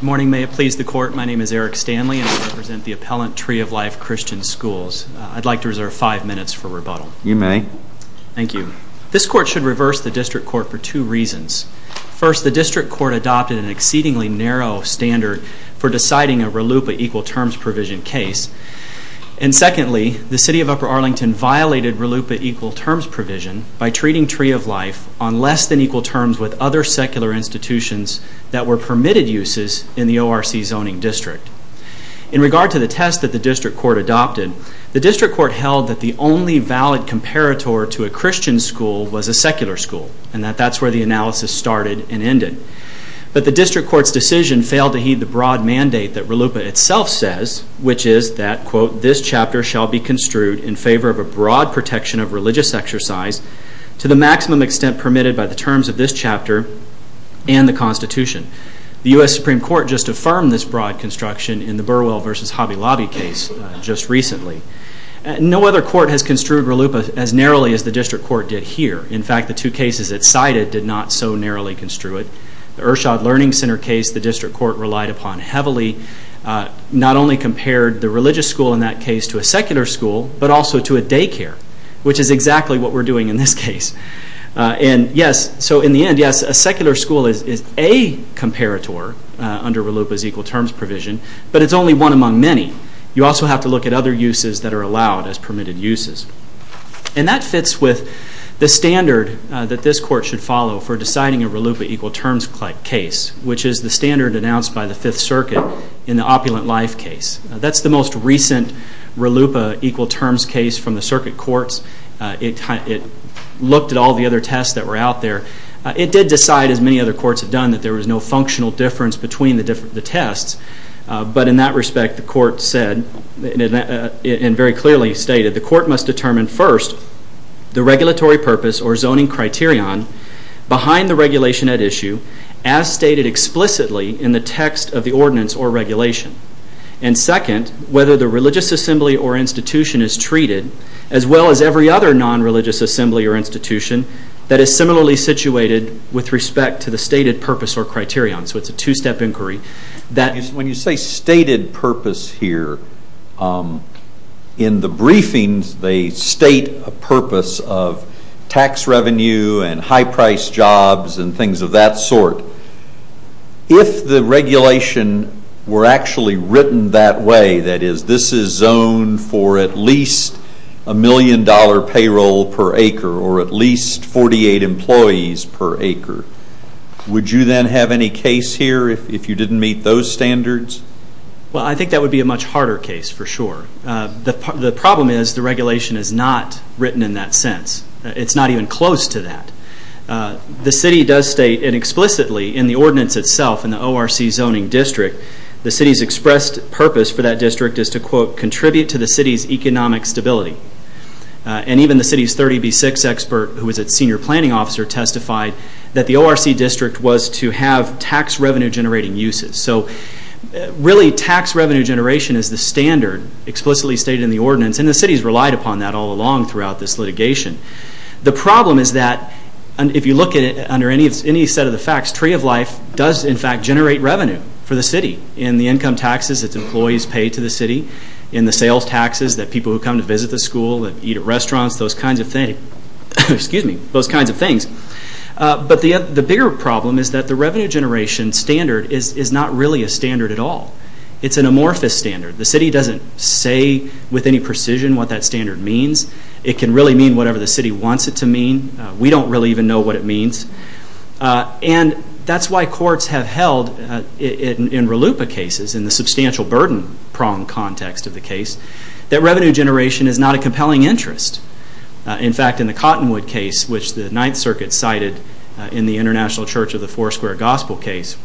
Morning, may it please the Court, my name is Eric Stanley and I represent the Appellant Tree of Life Christian Schools. I'd like to reserve five minutes for rebuttal. You may. This Court should reverse the District Court for two reasons. First, the District Court adopted an exceedingly narrow standard for deciding a RLUIPA Equal Terms Provision case. And secondly, the City of Upper Arlington violated RLUIPA Equal Terms Provision by treating Tree of Life on less than equal terms with other secular institutions that were permitted uses in the ORC Zoning District. In regard to the test that the District Court adopted, the District Court held that the only valid comparator to a Christian school was a secular school, and that that's where the analysis started and ended. But the District Court's decision failed to heed the broad mandate that RLUIPA itself says, which is that, quote, The U.S. Supreme Court just affirmed this broad construction in the Burwell v. Hobby Lobby case just recently. No other court has construed RLUIPA as narrowly as the District Court did here. In fact, the two cases it cited did not so narrowly construe it. The Irshad Learning Center case the District Court relied upon heavily not only compared the religious school in that case to a secular school, but also to a daycare, which is exactly what we're doing in this case. And yes, so in the end, yes, a secular school is a comparator under RLUIPA's Equal Terms Provision, but it's only one among many. You also have to look at other uses that are allowed as permitted uses. And that fits with the standard that this court should follow for deciding a RLUIPA Equal Terms case, which is the standard announced by the Fifth Circuit in the Opulent Life case. That's the most recent RLUIPA Equal Terms case from the circuit courts. It looked at all the other tests that were out there. It did decide, as many other courts have done, that there was no functional difference between the tests. But in that respect, the court said, and very clearly stated, the court must determine first the regulatory purpose or zoning criterion behind the regulation at issue as stated explicitly in the text of the ordinance or regulation. And second, whether the religious assembly or institution is treated as well as every other non-religious assembly or institution that is similarly situated with respect to the stated purpose or criterion. So it's a two-step inquiry. When you say stated purpose here, in the briefings they state a purpose of tax revenue and high-priced jobs and things of that sort. If the regulation were actually written that way, that is, this is zoned for at least a million dollar payroll per acre or at least 48 employees per acre, would you then have any case here if you didn't meet those standards? Well, I think that would be a much harder case for sure. The problem is the regulation is not written in that sense. It's not even close to that. The city does state, and explicitly in the ordinance itself in the ORC zoning district, the city's expressed purpose for that district is to, quote, contribute to the city's economic stability. And even the city's 30B6 expert, who was its senior planning officer, testified that the ORC district was to have tax revenue generating uses. So really tax revenue generation is the standard explicitly stated in the ordinance, and the city's relied upon that all along throughout this litigation. The problem is that, if you look at it under any set of the facts, Tree of Life does in fact generate revenue for the city in the income taxes its employees pay to the city, in the sales taxes that people who come to visit the school, eat at restaurants, those kinds of things. But the bigger problem is that the revenue generation standard is not really a standard at all. It's an amorphous standard. The city doesn't say with any precision what that standard means. It can really mean whatever the city wants it to mean. We don't really even know what it means. And that's why courts have held, in RLUIPA cases, in the substantial burden prong context of the case, that revenue generation is not a compelling interest. In fact, in the Cottonwood case, which the Ninth Circuit cited in the International Church of the Four Square Gospel case,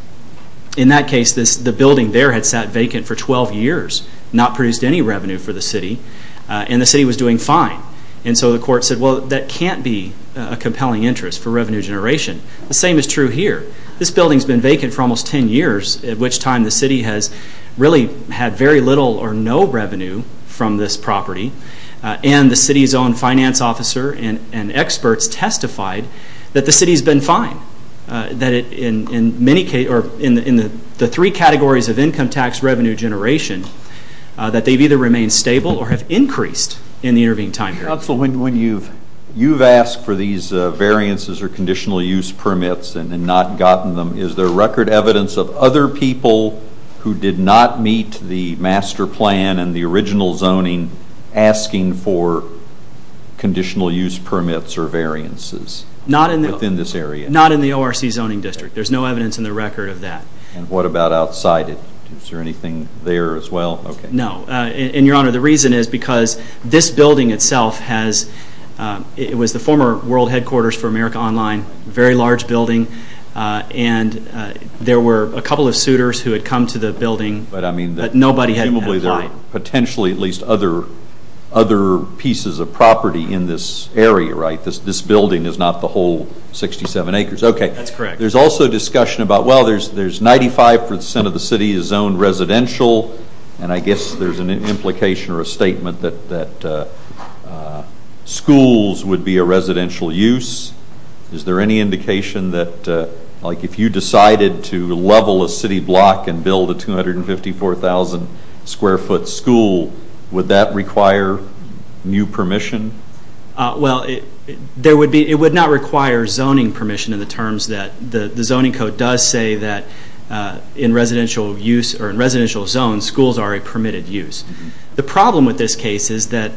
in that case the building there had sat vacant for 12 years, not produced any revenue for the city. And the city was doing fine. And so the court said, well, that can't be a compelling interest for revenue generation. The same is true here. This building's been vacant for almost 10 years, at which time the city has really had very little or no revenue from this property. And the city's own finance officer and experts testified that the city's been fine. That in the three categories of income tax revenue generation, that they've either remained stable or have increased in the intervening time periods. Councilman, when you've asked for these variances or conditional use permits and not gotten them, is there record evidence of other people who did not meet the master plan and the original zoning asking for conditional use permits or variances within this area? Not in the ORC zoning district. There's no evidence in the record of that. And what about outside it? Is there anything there as well? No. And, Your Honor, the reason is because this building itself was the former world headquarters for America Online, a very large building. And there were a couple of suitors who had come to the building, but nobody had applied. Potentially at least other pieces of property in this area, right? This building is not the whole 67 acres. Okay. That's correct. There's also discussion about, well, there's 95% of the city is zoned residential, and I guess there's an implication or a statement that schools would be a residential use. Is there any indication that, like, if you decided to level a city block and build a 254,000 square foot school, would that require new permission? Well, it would not require zoning permission in the terms that the zoning code does say that in residential use or in residential zones, schools are a permitted use. The problem with this case is that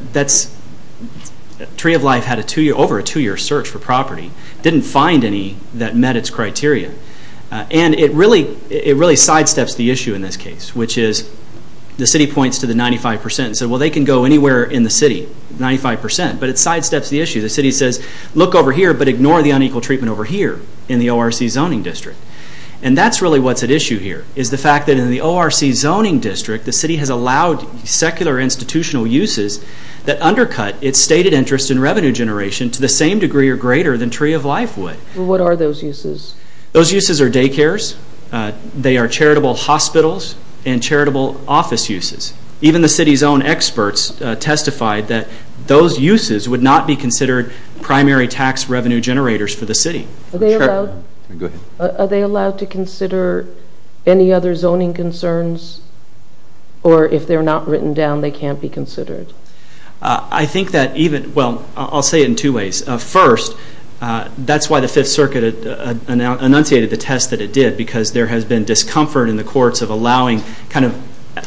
Tree of Life had over a two-year search for property, didn't find any that met its criteria. And it really sidesteps the issue in this case, which is the city points to the 95% and says, well, they can go anywhere in the city, 95%, but it sidesteps the issue. The city says, look over here, but ignore the unequal treatment over here in the ORC zoning district. And that's really what's at issue here is the fact that in the ORC zoning district, the city has allowed secular institutional uses that undercut its stated interest in revenue generation to the same degree or greater than Tree of Life would. Well, what are those uses? Those uses are daycares. They are charitable hospitals and charitable office uses. Even the city's own experts testified that those uses would not be considered primary tax revenue generators for the city. Are they allowed to consider any other zoning concerns? Or if they're not written down, they can't be considered? I think that even, well, I'll say it in two ways. First, that's why the Fifth Circuit enunciated the test that it did, because there has been discomfort in the courts of allowing kind of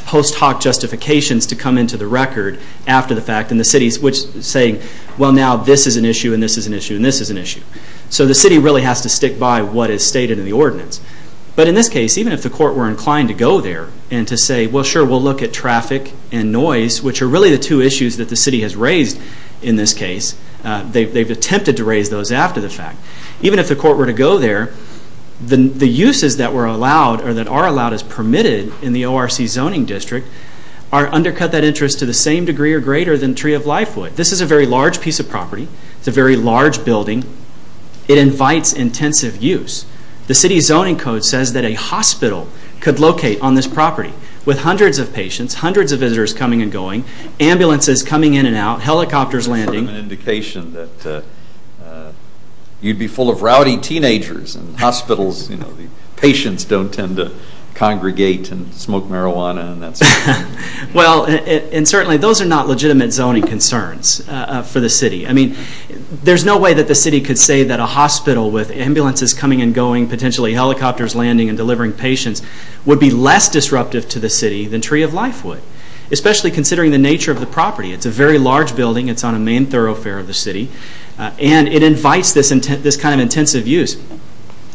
post hoc justifications to come into the record after the fact, and the city's saying, well, now this is an issue and this is an issue and this is an issue. So the city really has to stick by what is stated in the ordinance. But in this case, even if the court were inclined to go there and to say, well, sure, we'll look at traffic and noise, which are really the two issues that the city has raised in this case. They've attempted to raise those after the fact. Even if the court were to go there, the uses that were allowed or that are allowed as permitted in the ORC zoning district are undercut that interest to the same degree or greater than Tree of Life would. This is a very large piece of property. It's a very large building. It invites intensive use. The city's zoning code says that a hospital could locate on this property with hundreds of patients, hundreds of visitors coming and going, ambulances coming in and out, helicopters landing. It's sort of an indication that you'd be full of rowdy teenagers in hospitals. Patients don't tend to congregate and smoke marijuana and that sort of thing. Well, and certainly those are not legitimate zoning concerns for the city. I mean, there's no way that the city could say that a hospital with ambulances coming and going, potentially helicopters landing and delivering patients would be less disruptive to the city than Tree of Life would, especially considering the nature of the property. It's a very large building. It's on a main thoroughfare of the city, and it invites this kind of intensive use.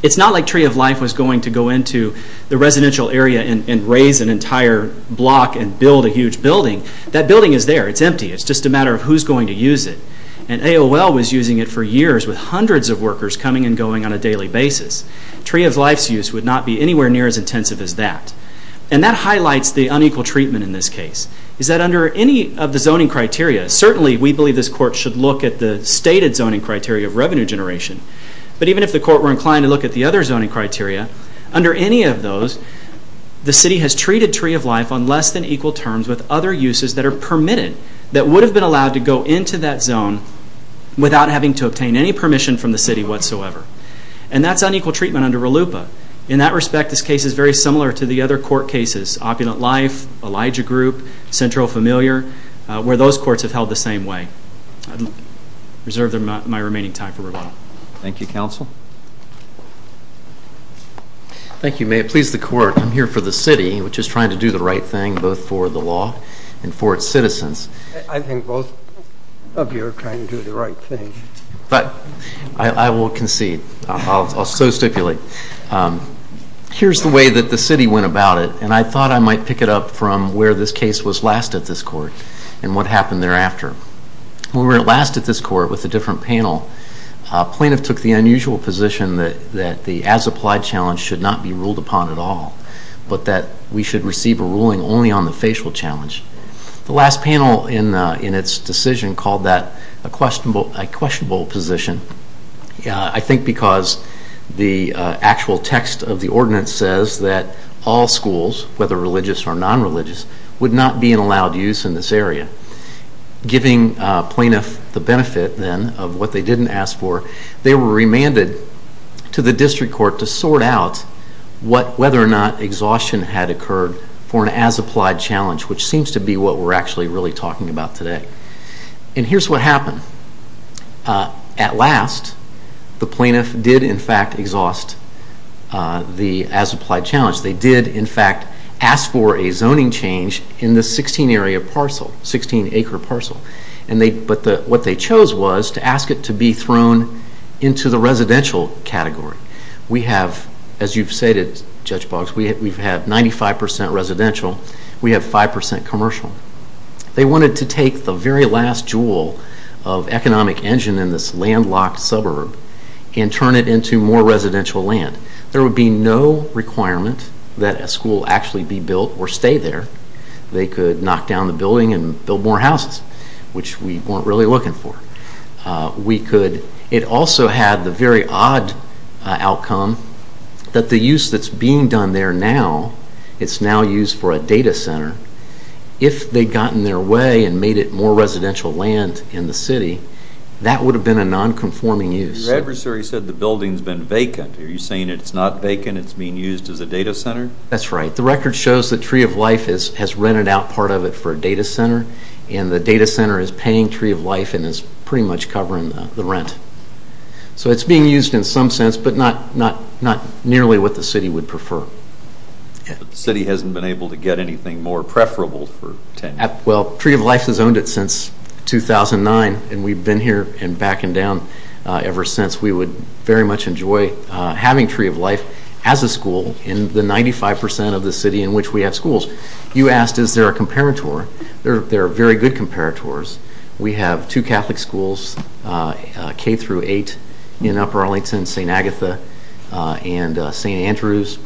It's not like Tree of Life was going to go into the residential area and raise an entire block and build a huge building. That building is there. It's empty. It's just a matter of who's going to use it. And AOL was using it for years with hundreds of workers coming and going on a daily basis. Tree of Life's use would not be anywhere near as intensive as that. And that highlights the unequal treatment in this case, is that under any of the zoning criteria, certainly we believe this court should look at the stated zoning criteria of revenue generation, but even if the court were inclined to look at the other zoning criteria, under any of those the city has treated Tree of Life on less than equal terms with other uses that are permitted that would have been allowed to go into that zone without having to obtain any permission from the city whatsoever. And that's unequal treatment under RLUIPA. In that respect, this case is very similar to the other court cases, Opulent Life, Elijah Group, Central Familiar, where those courts have held the same way. I reserve my remaining time for rebuttal. Thank you, counsel. May it please the court, I'm here for the city, which is trying to do the right thing both for the law and for its citizens. I think both of you are trying to do the right thing. But I will concede. I'll so stipulate. Here's the way that the city went about it, and I thought I might pick it up from where this case was last at this court and what happened thereafter. When we were last at this court with a different panel, a plaintiff took the unusual position that the as-applied challenge should not be ruled upon at all, but that we should receive a ruling only on the facial challenge. The last panel in its decision called that a questionable position, I think because the actual text of the ordinance says that all schools, whether religious or non-religious, would not be allowed use in this area. Giving plaintiff the benefit then of what they didn't ask for, they were remanded to the district court to sort out whether or not exhaustion had occurred for an as-applied challenge, which seems to be what we're actually really talking about today. And here's what happened. At last, the plaintiff did in fact exhaust the as-applied challenge. They did in fact ask for a zoning change in the 16-acre parcel. But what they chose was to ask it to be thrown into the residential category. We have, as you've stated Judge Boggs, we've had 95% residential, we have 5% commercial. They wanted to take the very last jewel of economic engine in this landlocked suburb and turn it into more residential land. There would be no requirement that a school actually be built or stay there. They could knock down the building and build more houses, which we weren't really looking for. It also had the very odd outcome that the use that's being done there now, it's now used for a data center. If they'd gotten their way and made it more residential land in the city, that would have been a non-conforming use. Your adversary said the building's been vacant. Are you saying it's not vacant, it's being used as a data center? That's right. The record shows that Tree of Life has rented out part of it for a data center, and the data center is paying Tree of Life and is pretty much covering the rent. So it's being used in some sense, but not nearly what the city would prefer. The city hasn't been able to get anything more preferable for tenure? Well, Tree of Life has owned it since 2009, and we've been here and back and down ever since. We would very much enjoy having Tree of Life as a school in the 95% of the city in which we have schools. You asked is there a comparator. There are very good comparators. We have two Catholic schools, K-8 in Upper Arlington, St. Agatha and St. Andrews.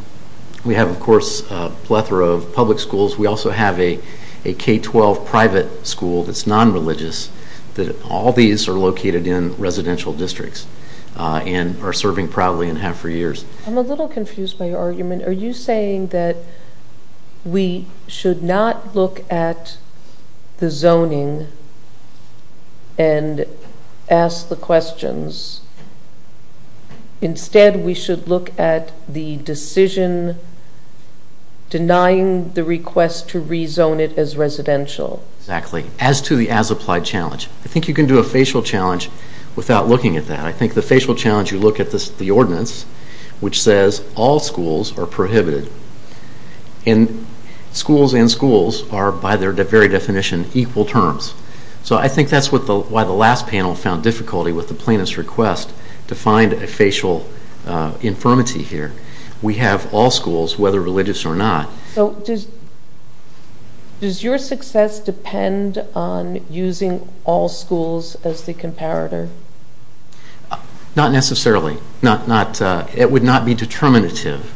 We have, of course, a plethora of public schools. We also have a K-12 private school that's non-religious. All these are located in residential districts and are serving proudly and have for years. I'm a little confused by your argument. Are you saying that we should not look at the zoning and ask the questions? Instead, we should look at the decision denying the request to rezone it as residential? Exactly, as to the as-applied challenge. I think you can do a facial challenge without looking at that. I think the facial challenge, you look at the ordinance, which says all schools are prohibited, and schools and schools are, by their very definition, equal terms. So I think that's why the last panel found difficulty with the plaintiff's request to find a facial infirmity here. We have all schools, whether religious or not. Does your success depend on using all schools as the comparator? Not necessarily. It would not be determinative.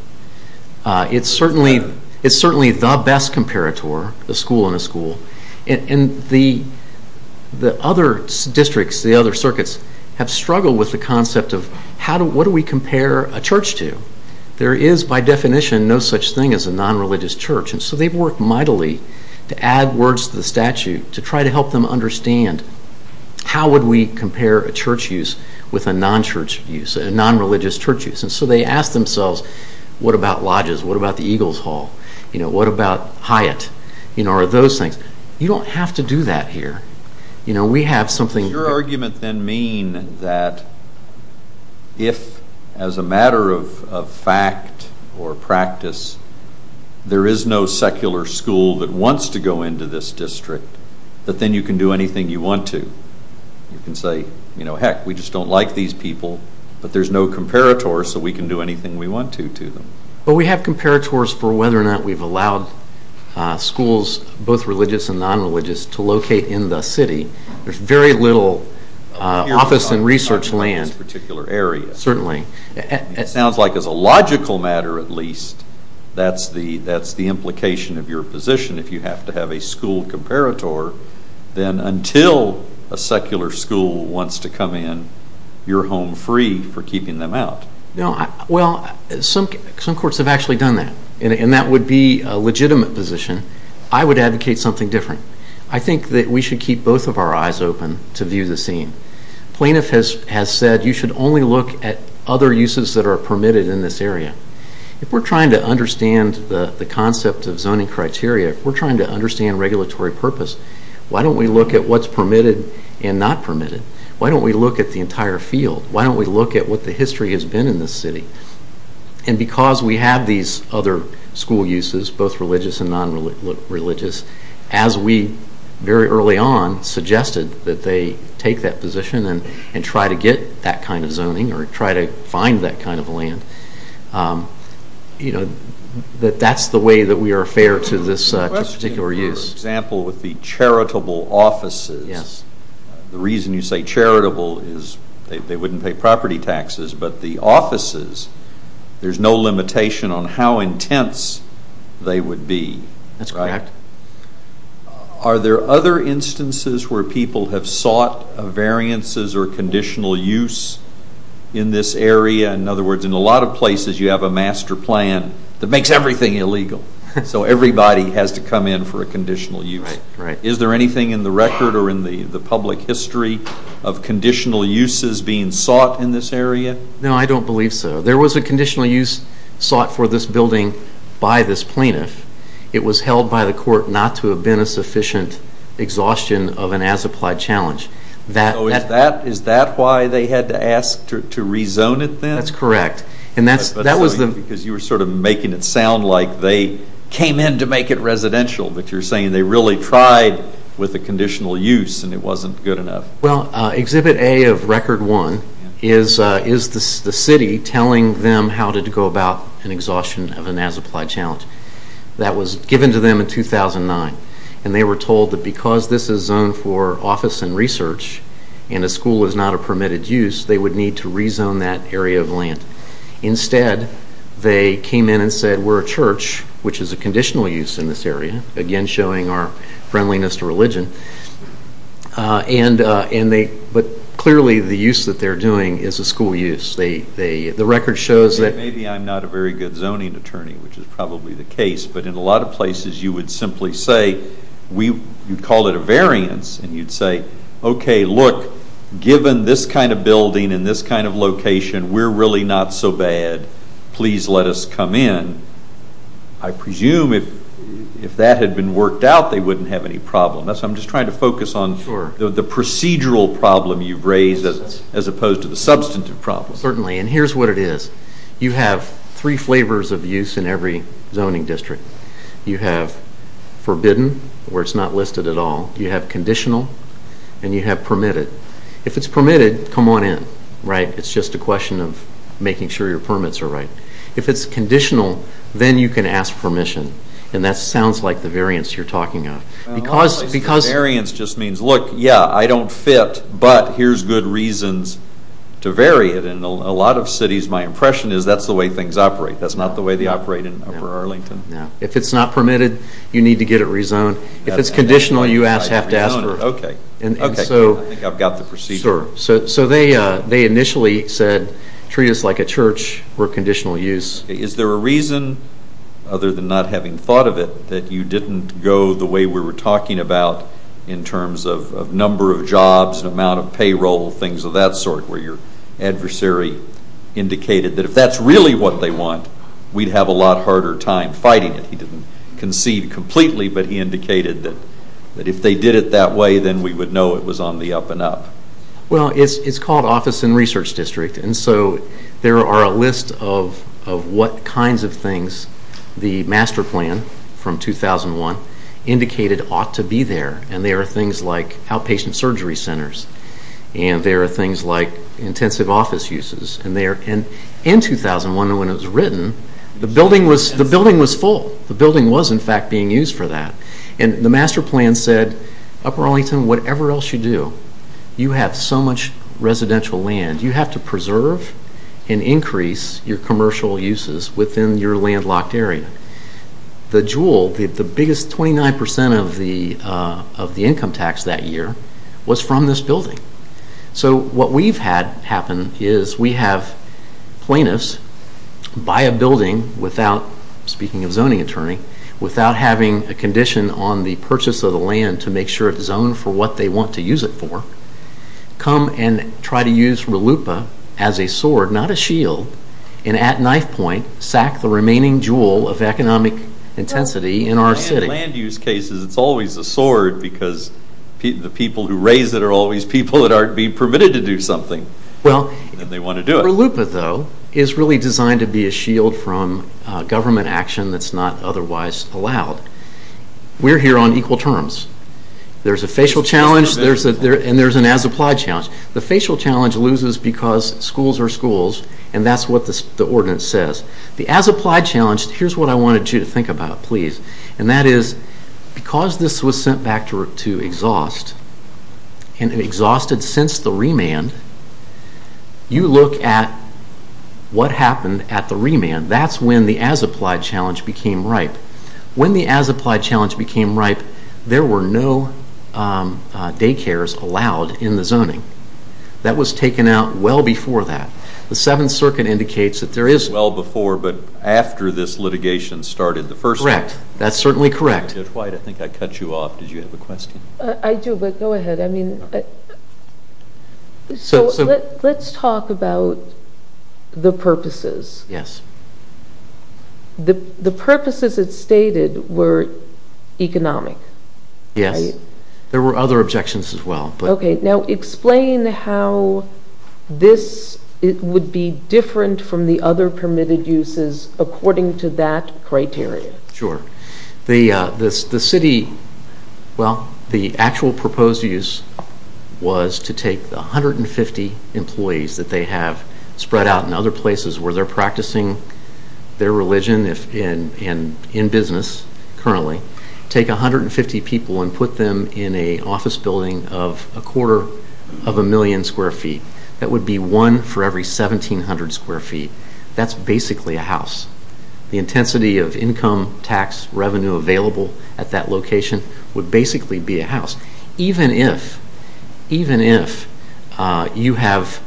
It's certainly the best comparator, a school and a school. The other districts, the other circuits, have struggled with the concept of what do we compare a church to? There is, by definition, no such thing as a non-religious church. So they've worked mightily to add words to the statute to try to help them understand how would we compare a church use with a non-church use, a non-religious church use. So they ask themselves, what about Lodges? What about the Eagles Hall? What about Hyatt? Those things. You don't have to do that here. Does your argument then mean that if, as a matter of fact or practice, there is no secular school that wants to go into this district, that then you can do anything you want to? You can say, heck, we just don't like these people, but there's no comparator so we can do anything we want to to them. We have comparators for whether or not we've allowed schools, both religious and non-religious, to locate in the city. There's very little office and research land in this particular area. Certainly. It sounds like as a logical matter, at least, that's the implication of your position. If you have to have a school comparator, then until a secular school wants to come in, you're home free for keeping them out. Well, some courts have actually done that, and that would be a legitimate position. I would advocate something different. I think that we should keep both of our eyes open to view the scene. Plaintiff has said you should only look at other uses that are permitted in this area. If we're trying to understand the concept of zoning criteria, if we're trying to understand regulatory purpose, why don't we look at what's permitted and not permitted? Why don't we look at the entire field? Why don't we look at what the history has been in this city? Because we have these other school uses, both religious and non-religious, as we very early on suggested that they take that position and try to get that kind of zoning or try to find that kind of land, that that's the way that we are fair to this particular use. The question for example with the charitable offices, the reason you say charitable is they wouldn't pay property taxes, but the offices, there's no limitation on how intense they would be. That's correct. Are there other instances where people have sought variances or conditional use in this area? In other words, in a lot of places you have a master plan that makes everything illegal, so everybody has to come in for a conditional use. Is there anything in the record or in the public history of conditional uses being sought in this area? No, I don't believe so. There was a conditional use sought for this building by this plaintiff. It was held by the court not to have been a sufficient exhaustion of an as-applied challenge. Is that why they had to ask to rezone it then? That's correct. Because you were sort of making it sound like they came in to make it residential, but you're saying they really tried with the conditional use and it wasn't good enough. Well, Exhibit A of Record 1 is the city telling them how to go about an exhaustion of an as-applied challenge. That was given to them in 2009, and they were told that because this is zoned for office and research and a school is not a permitted use, they would need to rezone that area of land. Instead, they came in and said, we're a church, which is a conditional use in this area, again showing our friendliness to religion, but clearly the use that they're doing is a school use. The record shows that... Maybe I'm not a very good zoning attorney, which is probably the case, but in a lot of places you would simply say, you'd call it a variance, and you'd say, okay, look, given this kind of building and this kind of location, we're really not so bad. Please let us come in. I presume if that had been worked out, they wouldn't have any problem. I'm just trying to focus on the procedural problem you've raised as opposed to the substantive problem. Certainly, and here's what it is. You have three flavors of use in every zoning district. You have forbidden, where it's not listed at all. You have conditional, and you have permitted. If it's permitted, come on in. It's just a question of making sure your permits are right. If it's conditional, then you can ask permission, and that sounds like the variance you're talking of. Variance just means, look, yeah, I don't fit, but here's good reasons to vary it. In a lot of cities, my impression is that's the way things operate. That's not the way they operate in Upper Arlington. If it's not permitted, you need to get it rezoned. If it's conditional, you have to ask for it. I think I've got the procedure. They initially said treat us like a church for conditional use. Is there a reason, other than not having thought of it, that you didn't go the way we were talking about in terms of number of jobs, amount of payroll, things of that sort, where your adversary indicated that if that's really what they want, we'd have a lot harder time fighting it? He didn't concede completely, but he indicated that if they did it that way, then we would know it was on the up and up. Well, it's called Office and Research District, and so there are a list of what kinds of things the master plan from 2001 indicated ought to be there, and there are things like outpatient surgery centers, and there are things like intensive office uses. In 2001, when it was written, the building was full. The building was, in fact, being used for that, and the master plan said, Upper Arlington, whatever else you do, you have so much residential land. You have to preserve and increase your commercial uses within your landlocked area. The jewel, the biggest 29% of the income tax that year, was from this building. So what we've had happen is we have plaintiffs buy a building without, speaking of zoning attorney, without having a condition on the purchase of the land to make sure it's zoned for what they want to use it for, come and try to use RLUIPA as a sword, not a shield, and at knife point, sack the remaining jewel of economic intensity in our city. In land use cases, it's always a sword because the people who raise it are always people that aren't being permitted to do something, and they want to do it. RLUIPA, though, is really designed to be a shield from government action that's not otherwise allowed. We're here on equal terms. There's a facial challenge, and there's an as-applied challenge. The facial challenge loses because schools are schools, and that's what the ordinance says. The as-applied challenge, here's what I wanted you to think about, please, and that is because this was sent back to exhaust, and exhausted since the remand, you look at what happened at the remand. That's when the as-applied challenge became ripe. When the as-applied challenge became ripe, there were no daycares allowed in the zoning. That was taken out well before that. The Seventh Circuit indicates that there is... That's certainly correct. Dwight, I think I cut you off. Did you have a question? I do, but go ahead. Let's talk about the purposes. Yes. The purposes it stated were economic. Yes. There were other objections as well. Okay. Now explain how this would be different from the other permitted uses according to that criteria. Sure. The city... Well, the actual proposed use was to take the 150 employees that they have spread out in other places where they're practicing their religion and in business currently, take 150 people and put them in an office building of a quarter of a million square feet. That would be one for every 1,700 square feet. That's basically a house. The intensity of income tax revenue available at that location would basically be a house. Even if you have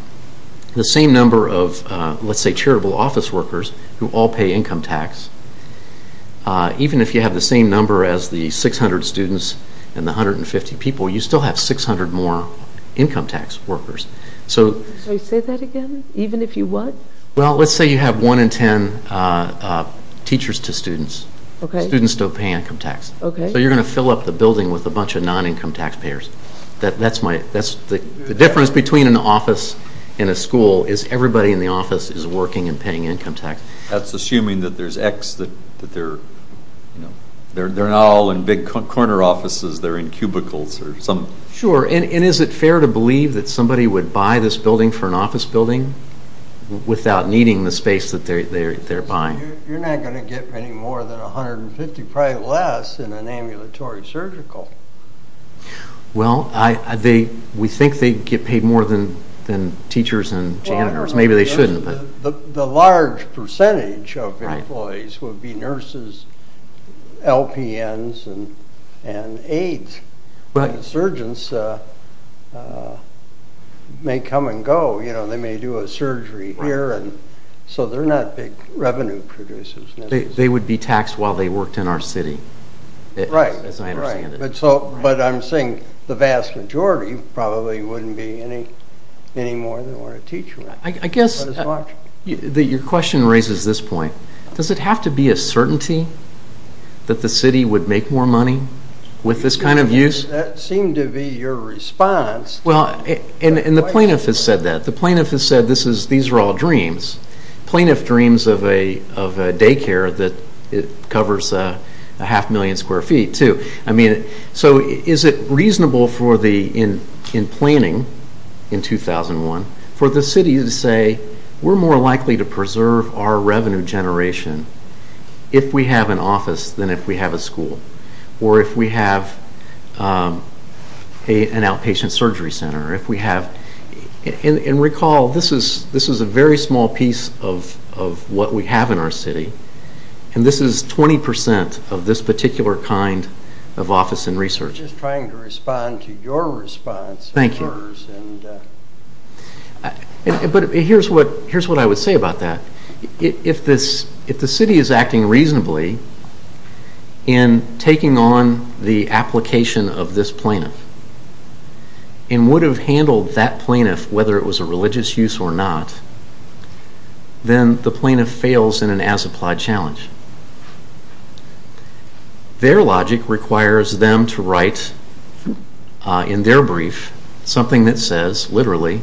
the same number of, let's say, charitable office workers who all pay income tax, even if you have the same number as the 600 students and the 150 people, you still have 600 more income tax workers. Say that again? Even if you what? Well, let's say you have 1 in 10 teachers to students. Okay. Students don't pay income tax. Okay. So you're going to fill up the building with a bunch of non-income taxpayers. The difference between an office and a school is everybody in the office is working and paying income tax. That's assuming that there's X, that they're not all in big corner offices, they're in cubicles or something. Sure. And is it fair to believe that somebody would buy this building for an office building without needing the space that they're buying? You're not going to get any more than 150, probably less in an ambulatory surgical. Well, we think they get paid more than teachers and janitors. Maybe they shouldn't. The large percentage of employees would be nurses, LPNs, and aides. Surgeons may come and go. They may do a surgery here. So they're not big revenue producers. They would be taxed while they worked in our city. Right. As I understand it. But I'm saying the vast majority probably wouldn't be any more than a teacher. I guess your question raises this point. Does it have to be a certainty that the city would make more money with this kind of use? That seemed to be your response. And the plaintiff has said that. The plaintiff has said these are all dreams. Plaintiff dreams of a daycare that covers a half million square feet, too. So is it reasonable in planning in 2001 for the city to say we're more likely to preserve our revenue generation if we have an office than if we have a school or if we have an outpatient surgery center? And recall, this is a very small piece of what we have in our city. And this is 20% of this particular kind of office and research. I'm just trying to respond to your response. Thank you. But here's what I would say about that. If the city is acting reasonably in taking on the application of this plaintiff and would have handled that plaintiff whether it was a religious use or not, then the plaintiff fails in an as-applied challenge. Their logic requires them to write in their brief something that says, literally,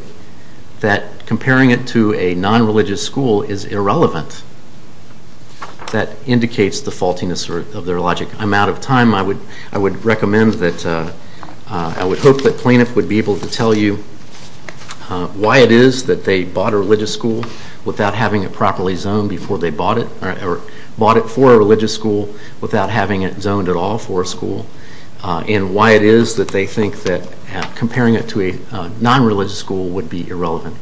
that comparing it to a non-religious school is irrelevant. That indicates the faultiness of their logic. I'm out of time. I would hope that plaintiff would be able to tell you why it is that they bought a religious school without having it properly zoned before they bought it, or bought it for a religious school without having it zoned at all for a school, and why it is that they think that comparing it to a non-religious school would be irrelevant.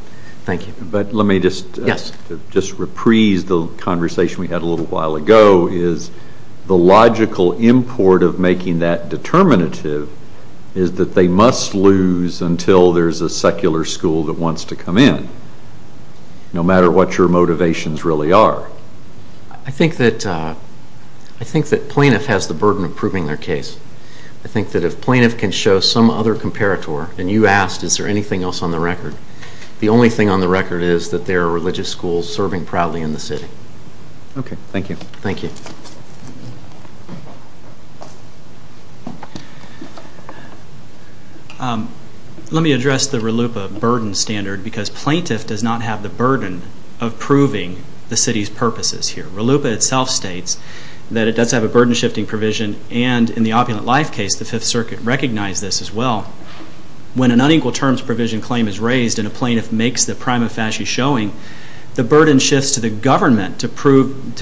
Thank you. But let me just reprise the conversation we had a little while ago. The logical import of making that determinative is that they must lose until there's a secular school that wants to come in, no matter what your motivations really are. I think that plaintiff has the burden of proving their case. I think that if plaintiff can show some other comparator, and you asked, is there anything else on the record, the only thing on the record is that there are religious schools serving proudly in the city. Okay. Thank you. Thank you. Let me address the RLUIPA burden standard, because plaintiff does not have the burden of proving the city's purposes here. RLUIPA itself states that it does have a burden-shifting provision, and in the Opulent Life case, the Fifth Circuit recognized this as well. When an unequal terms provision claim is raised and a plaintiff makes the prima facie showing, the burden shifts to the government to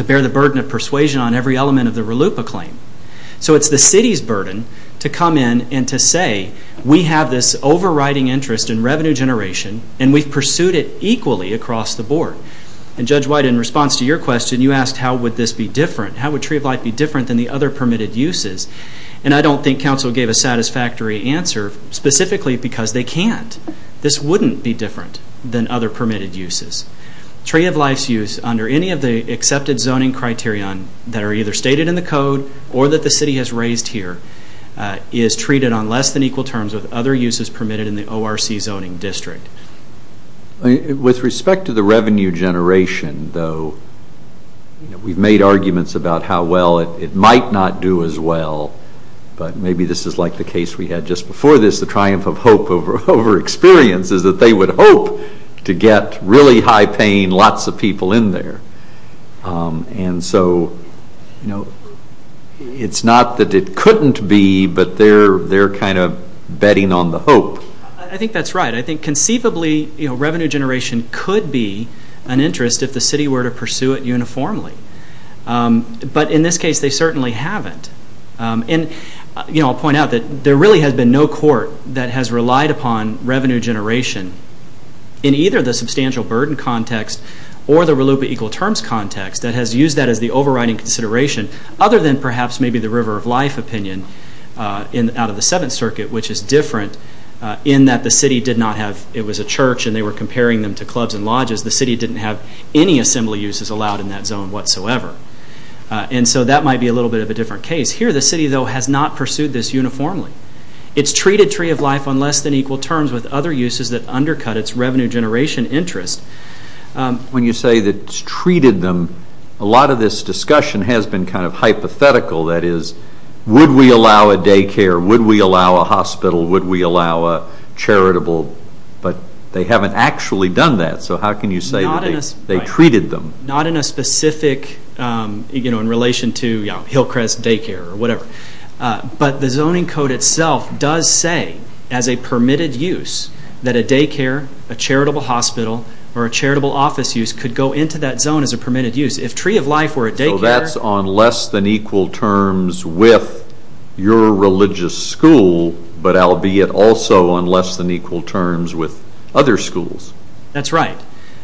bear the burden of persuasion on every element of the RLUIPA claim. So it's the city's burden to come in and to say, we have this overriding interest in revenue generation, and we've pursued it equally across the board. And Judge White, in response to your question, you asked how would this be different. How would Tree of Life be different than the other permitted uses? And I don't think council gave a satisfactory answer, specifically because they can't. This wouldn't be different than other permitted uses. Tree of Life's use, under any of the accepted zoning criterion that are either stated in the code or that the city has raised here, is treated on less than equal terms with other uses permitted in the ORC zoning district. With respect to the revenue generation, though, we've made arguments about how well it might not do as well, but maybe this is like the case we had just before this, the triumph of hope over experience, is that they would hope to get really high-paying, lots of people in there. And so it's not that it couldn't be, but they're kind of betting on the hope. I think that's right. I think conceivably revenue generation could be an interest if the city were to pursue it uniformly. But in this case, they certainly haven't. And I'll point out that there really has been no court that has relied upon revenue generation in either the substantial burden context or the RLUIPA equal terms context that has used that as the overriding consideration, other than perhaps maybe the River of Life opinion out of the Seventh Circuit, which is different in that the city did not have, it was a church and they were comparing them to clubs and lodges, the city didn't have any assembly uses allowed in that zone whatsoever. And so that might be a little bit of a different case. Here the city, though, has not pursued this uniformly. It's treated Tree of Life on less than equal terms with other uses that undercut its revenue generation interest. When you say that it's treated them, a lot of this discussion has been kind of hypothetical. That is, would we allow a daycare? Would we allow a hospital? Would we allow a charitable? But they haven't actually done that, so how can you say that they treated them? Not in a specific, in relation to Hillcrest Daycare or whatever. But the zoning code itself does say, as a permitted use, that a daycare, a charitable hospital, or a charitable office use could go into that zone as a permitted use. If Tree of Life were a daycare... So that's on less than equal terms with your religious school, but albeit also on less than equal terms with other schools. That's right.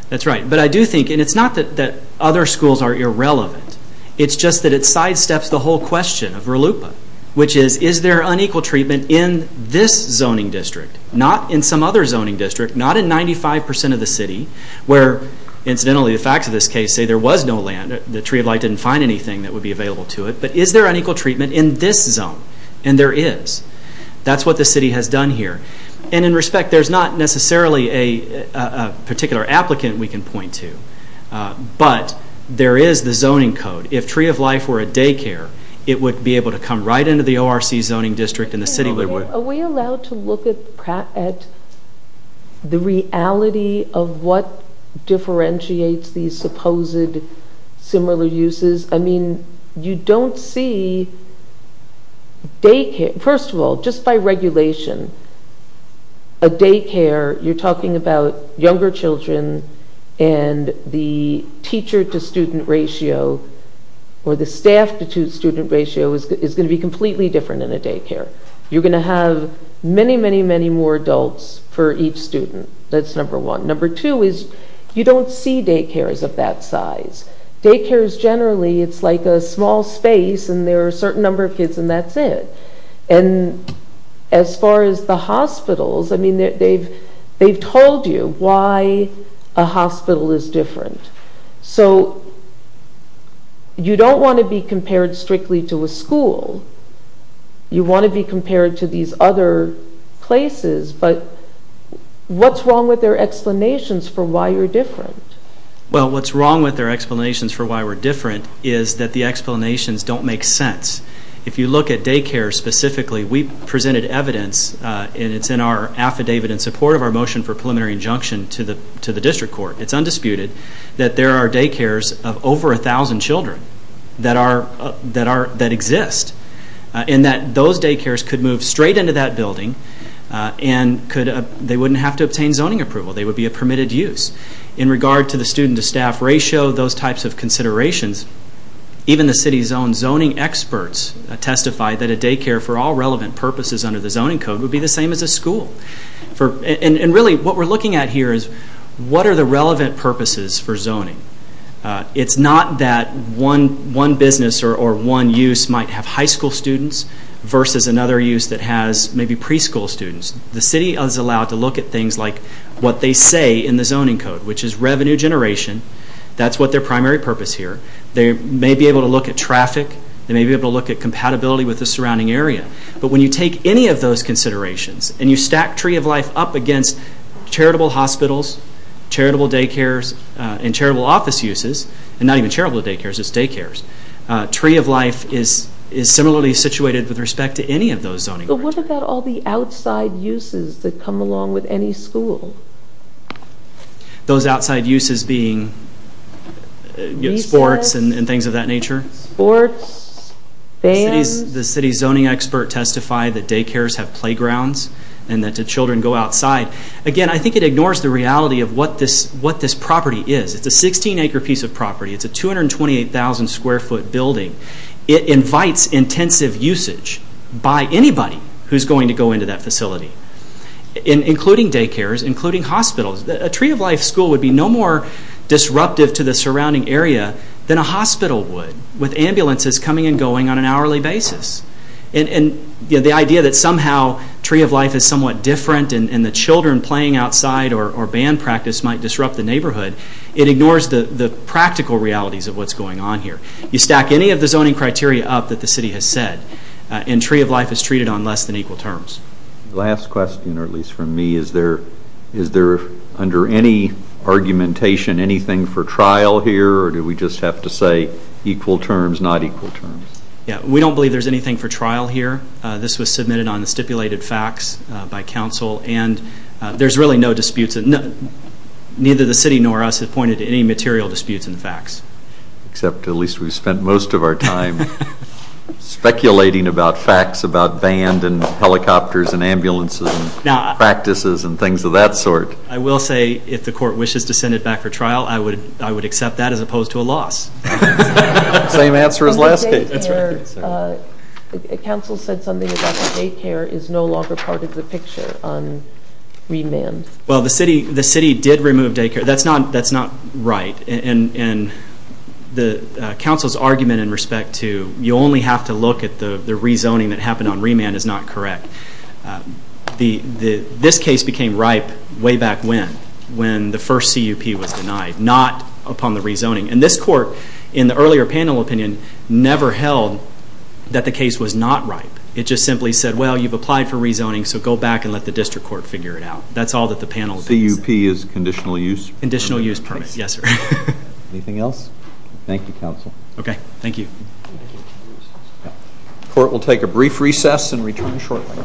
That's right. But I do think, and it's not that other schools are irrelevant, it's just that it sidesteps the whole question of RLUIPA, which is, is there unequal treatment in this zoning district, not in some other zoning district, not in 95% of the city, where, incidentally, the facts of this case say there was no land. The Tree of Life didn't find anything that would be available to it. But is there unequal treatment in this zone? And there is. That's what the city has done here. And in respect, there's not necessarily a particular applicant we can point to, but there is the zoning code. If Tree of Life were a daycare, it would be able to come right into the ORC zoning district and the city would... Are we allowed to look at the reality of what differentiates these supposed similar uses? I mean, you don't see daycare... A daycare, you're talking about younger children and the teacher-to-student ratio or the staff-to-student ratio is going to be completely different than a daycare. You're going to have many, many, many more adults for each student. That's number one. Number two is you don't see daycares of that size. Daycares, generally, it's like a small space and there are a certain number of kids and that's it. And as far as the hospitals, I mean, they've told you why a hospital is different. So you don't want to be compared strictly to a school. You want to be compared to these other places, but what's wrong with their explanations for why you're different? Well, what's wrong with their explanations for why we're different is that the explanations don't make sense. If you look at daycares specifically, we presented evidence and it's in our affidavit in support of our motion for preliminary injunction to the district court. It's undisputed that there are daycares of over 1,000 children that exist and that those daycares could move straight into that building and they wouldn't have to obtain zoning approval. They would be a permitted use. In regard to the student-to-staff ratio, those types of considerations, even the city's own zoning experts testify that a daycare for all relevant purposes under the zoning code would be the same as a school. And really what we're looking at here is what are the relevant purposes for zoning? It's not that one business or one use might have high school students versus another use that has maybe preschool students. The city is allowed to look at things like what they say in the zoning code, which is revenue generation. That's what their primary purpose here. They may be able to look at traffic. They may be able to look at compatibility with the surrounding area. But when you take any of those considerations and you stack Tree of Life up against charitable hospitals, charitable daycares, and charitable office uses, and not even charitable daycares, just daycares, Tree of Life is similarly situated with respect to any of those zoning rights. But what about all the outside uses that come along with any school? Those outside uses being sports and things of that nature? Sports, bands. The city's zoning expert testified that daycares have playgrounds and that children go outside. Again, I think it ignores the reality of what this property is. It's a 16-acre piece of property. It's a 228,000-square-foot building. It invites intensive usage by anybody who's going to go into that facility, including daycares, including hospitals. A Tree of Life school would be no more disruptive to the surrounding area than a hospital would, with ambulances coming and going on an hourly basis. The idea that somehow Tree of Life is somewhat different and the children playing outside or band practice might disrupt the neighborhood, it ignores the practical realities of what's going on here. You stack any of the zoning criteria up that the city has said, and Tree of Life is treated on less than equal terms. Last question, or at least from me, is there under any argumentation anything for trial here, or do we just have to say equal terms, not equal terms? We don't believe there's anything for trial here. This was submitted on the stipulated facts by council, and there's really no disputes. Neither the city nor us have pointed to any material disputes in the facts. Except at least we've spent most of our time speculating about facts about band and helicopters and ambulances and practices and things of that sort. I will say if the court wishes to send it back for trial, I would accept that as opposed to a loss. Same answer as last case. The council said something about the daycare is no longer part of the picture on remand. Well, the city did remove daycare. That's not right. And the council's argument in respect to you only have to look at the rezoning that happened on remand is not correct. This case became ripe way back when, when the first CUP was denied, not upon the rezoning. And this court, in the earlier panel opinion, never held that the case was not ripe. It just simply said, well, you've applied for rezoning, so go back and let the district court figure it out. That's all that the panel thinks. CUP is conditional use? Conditional use permit, yes, sir. Anything else? Thank you, counsel. Okay, thank you. The court will take a brief recess and return shortly.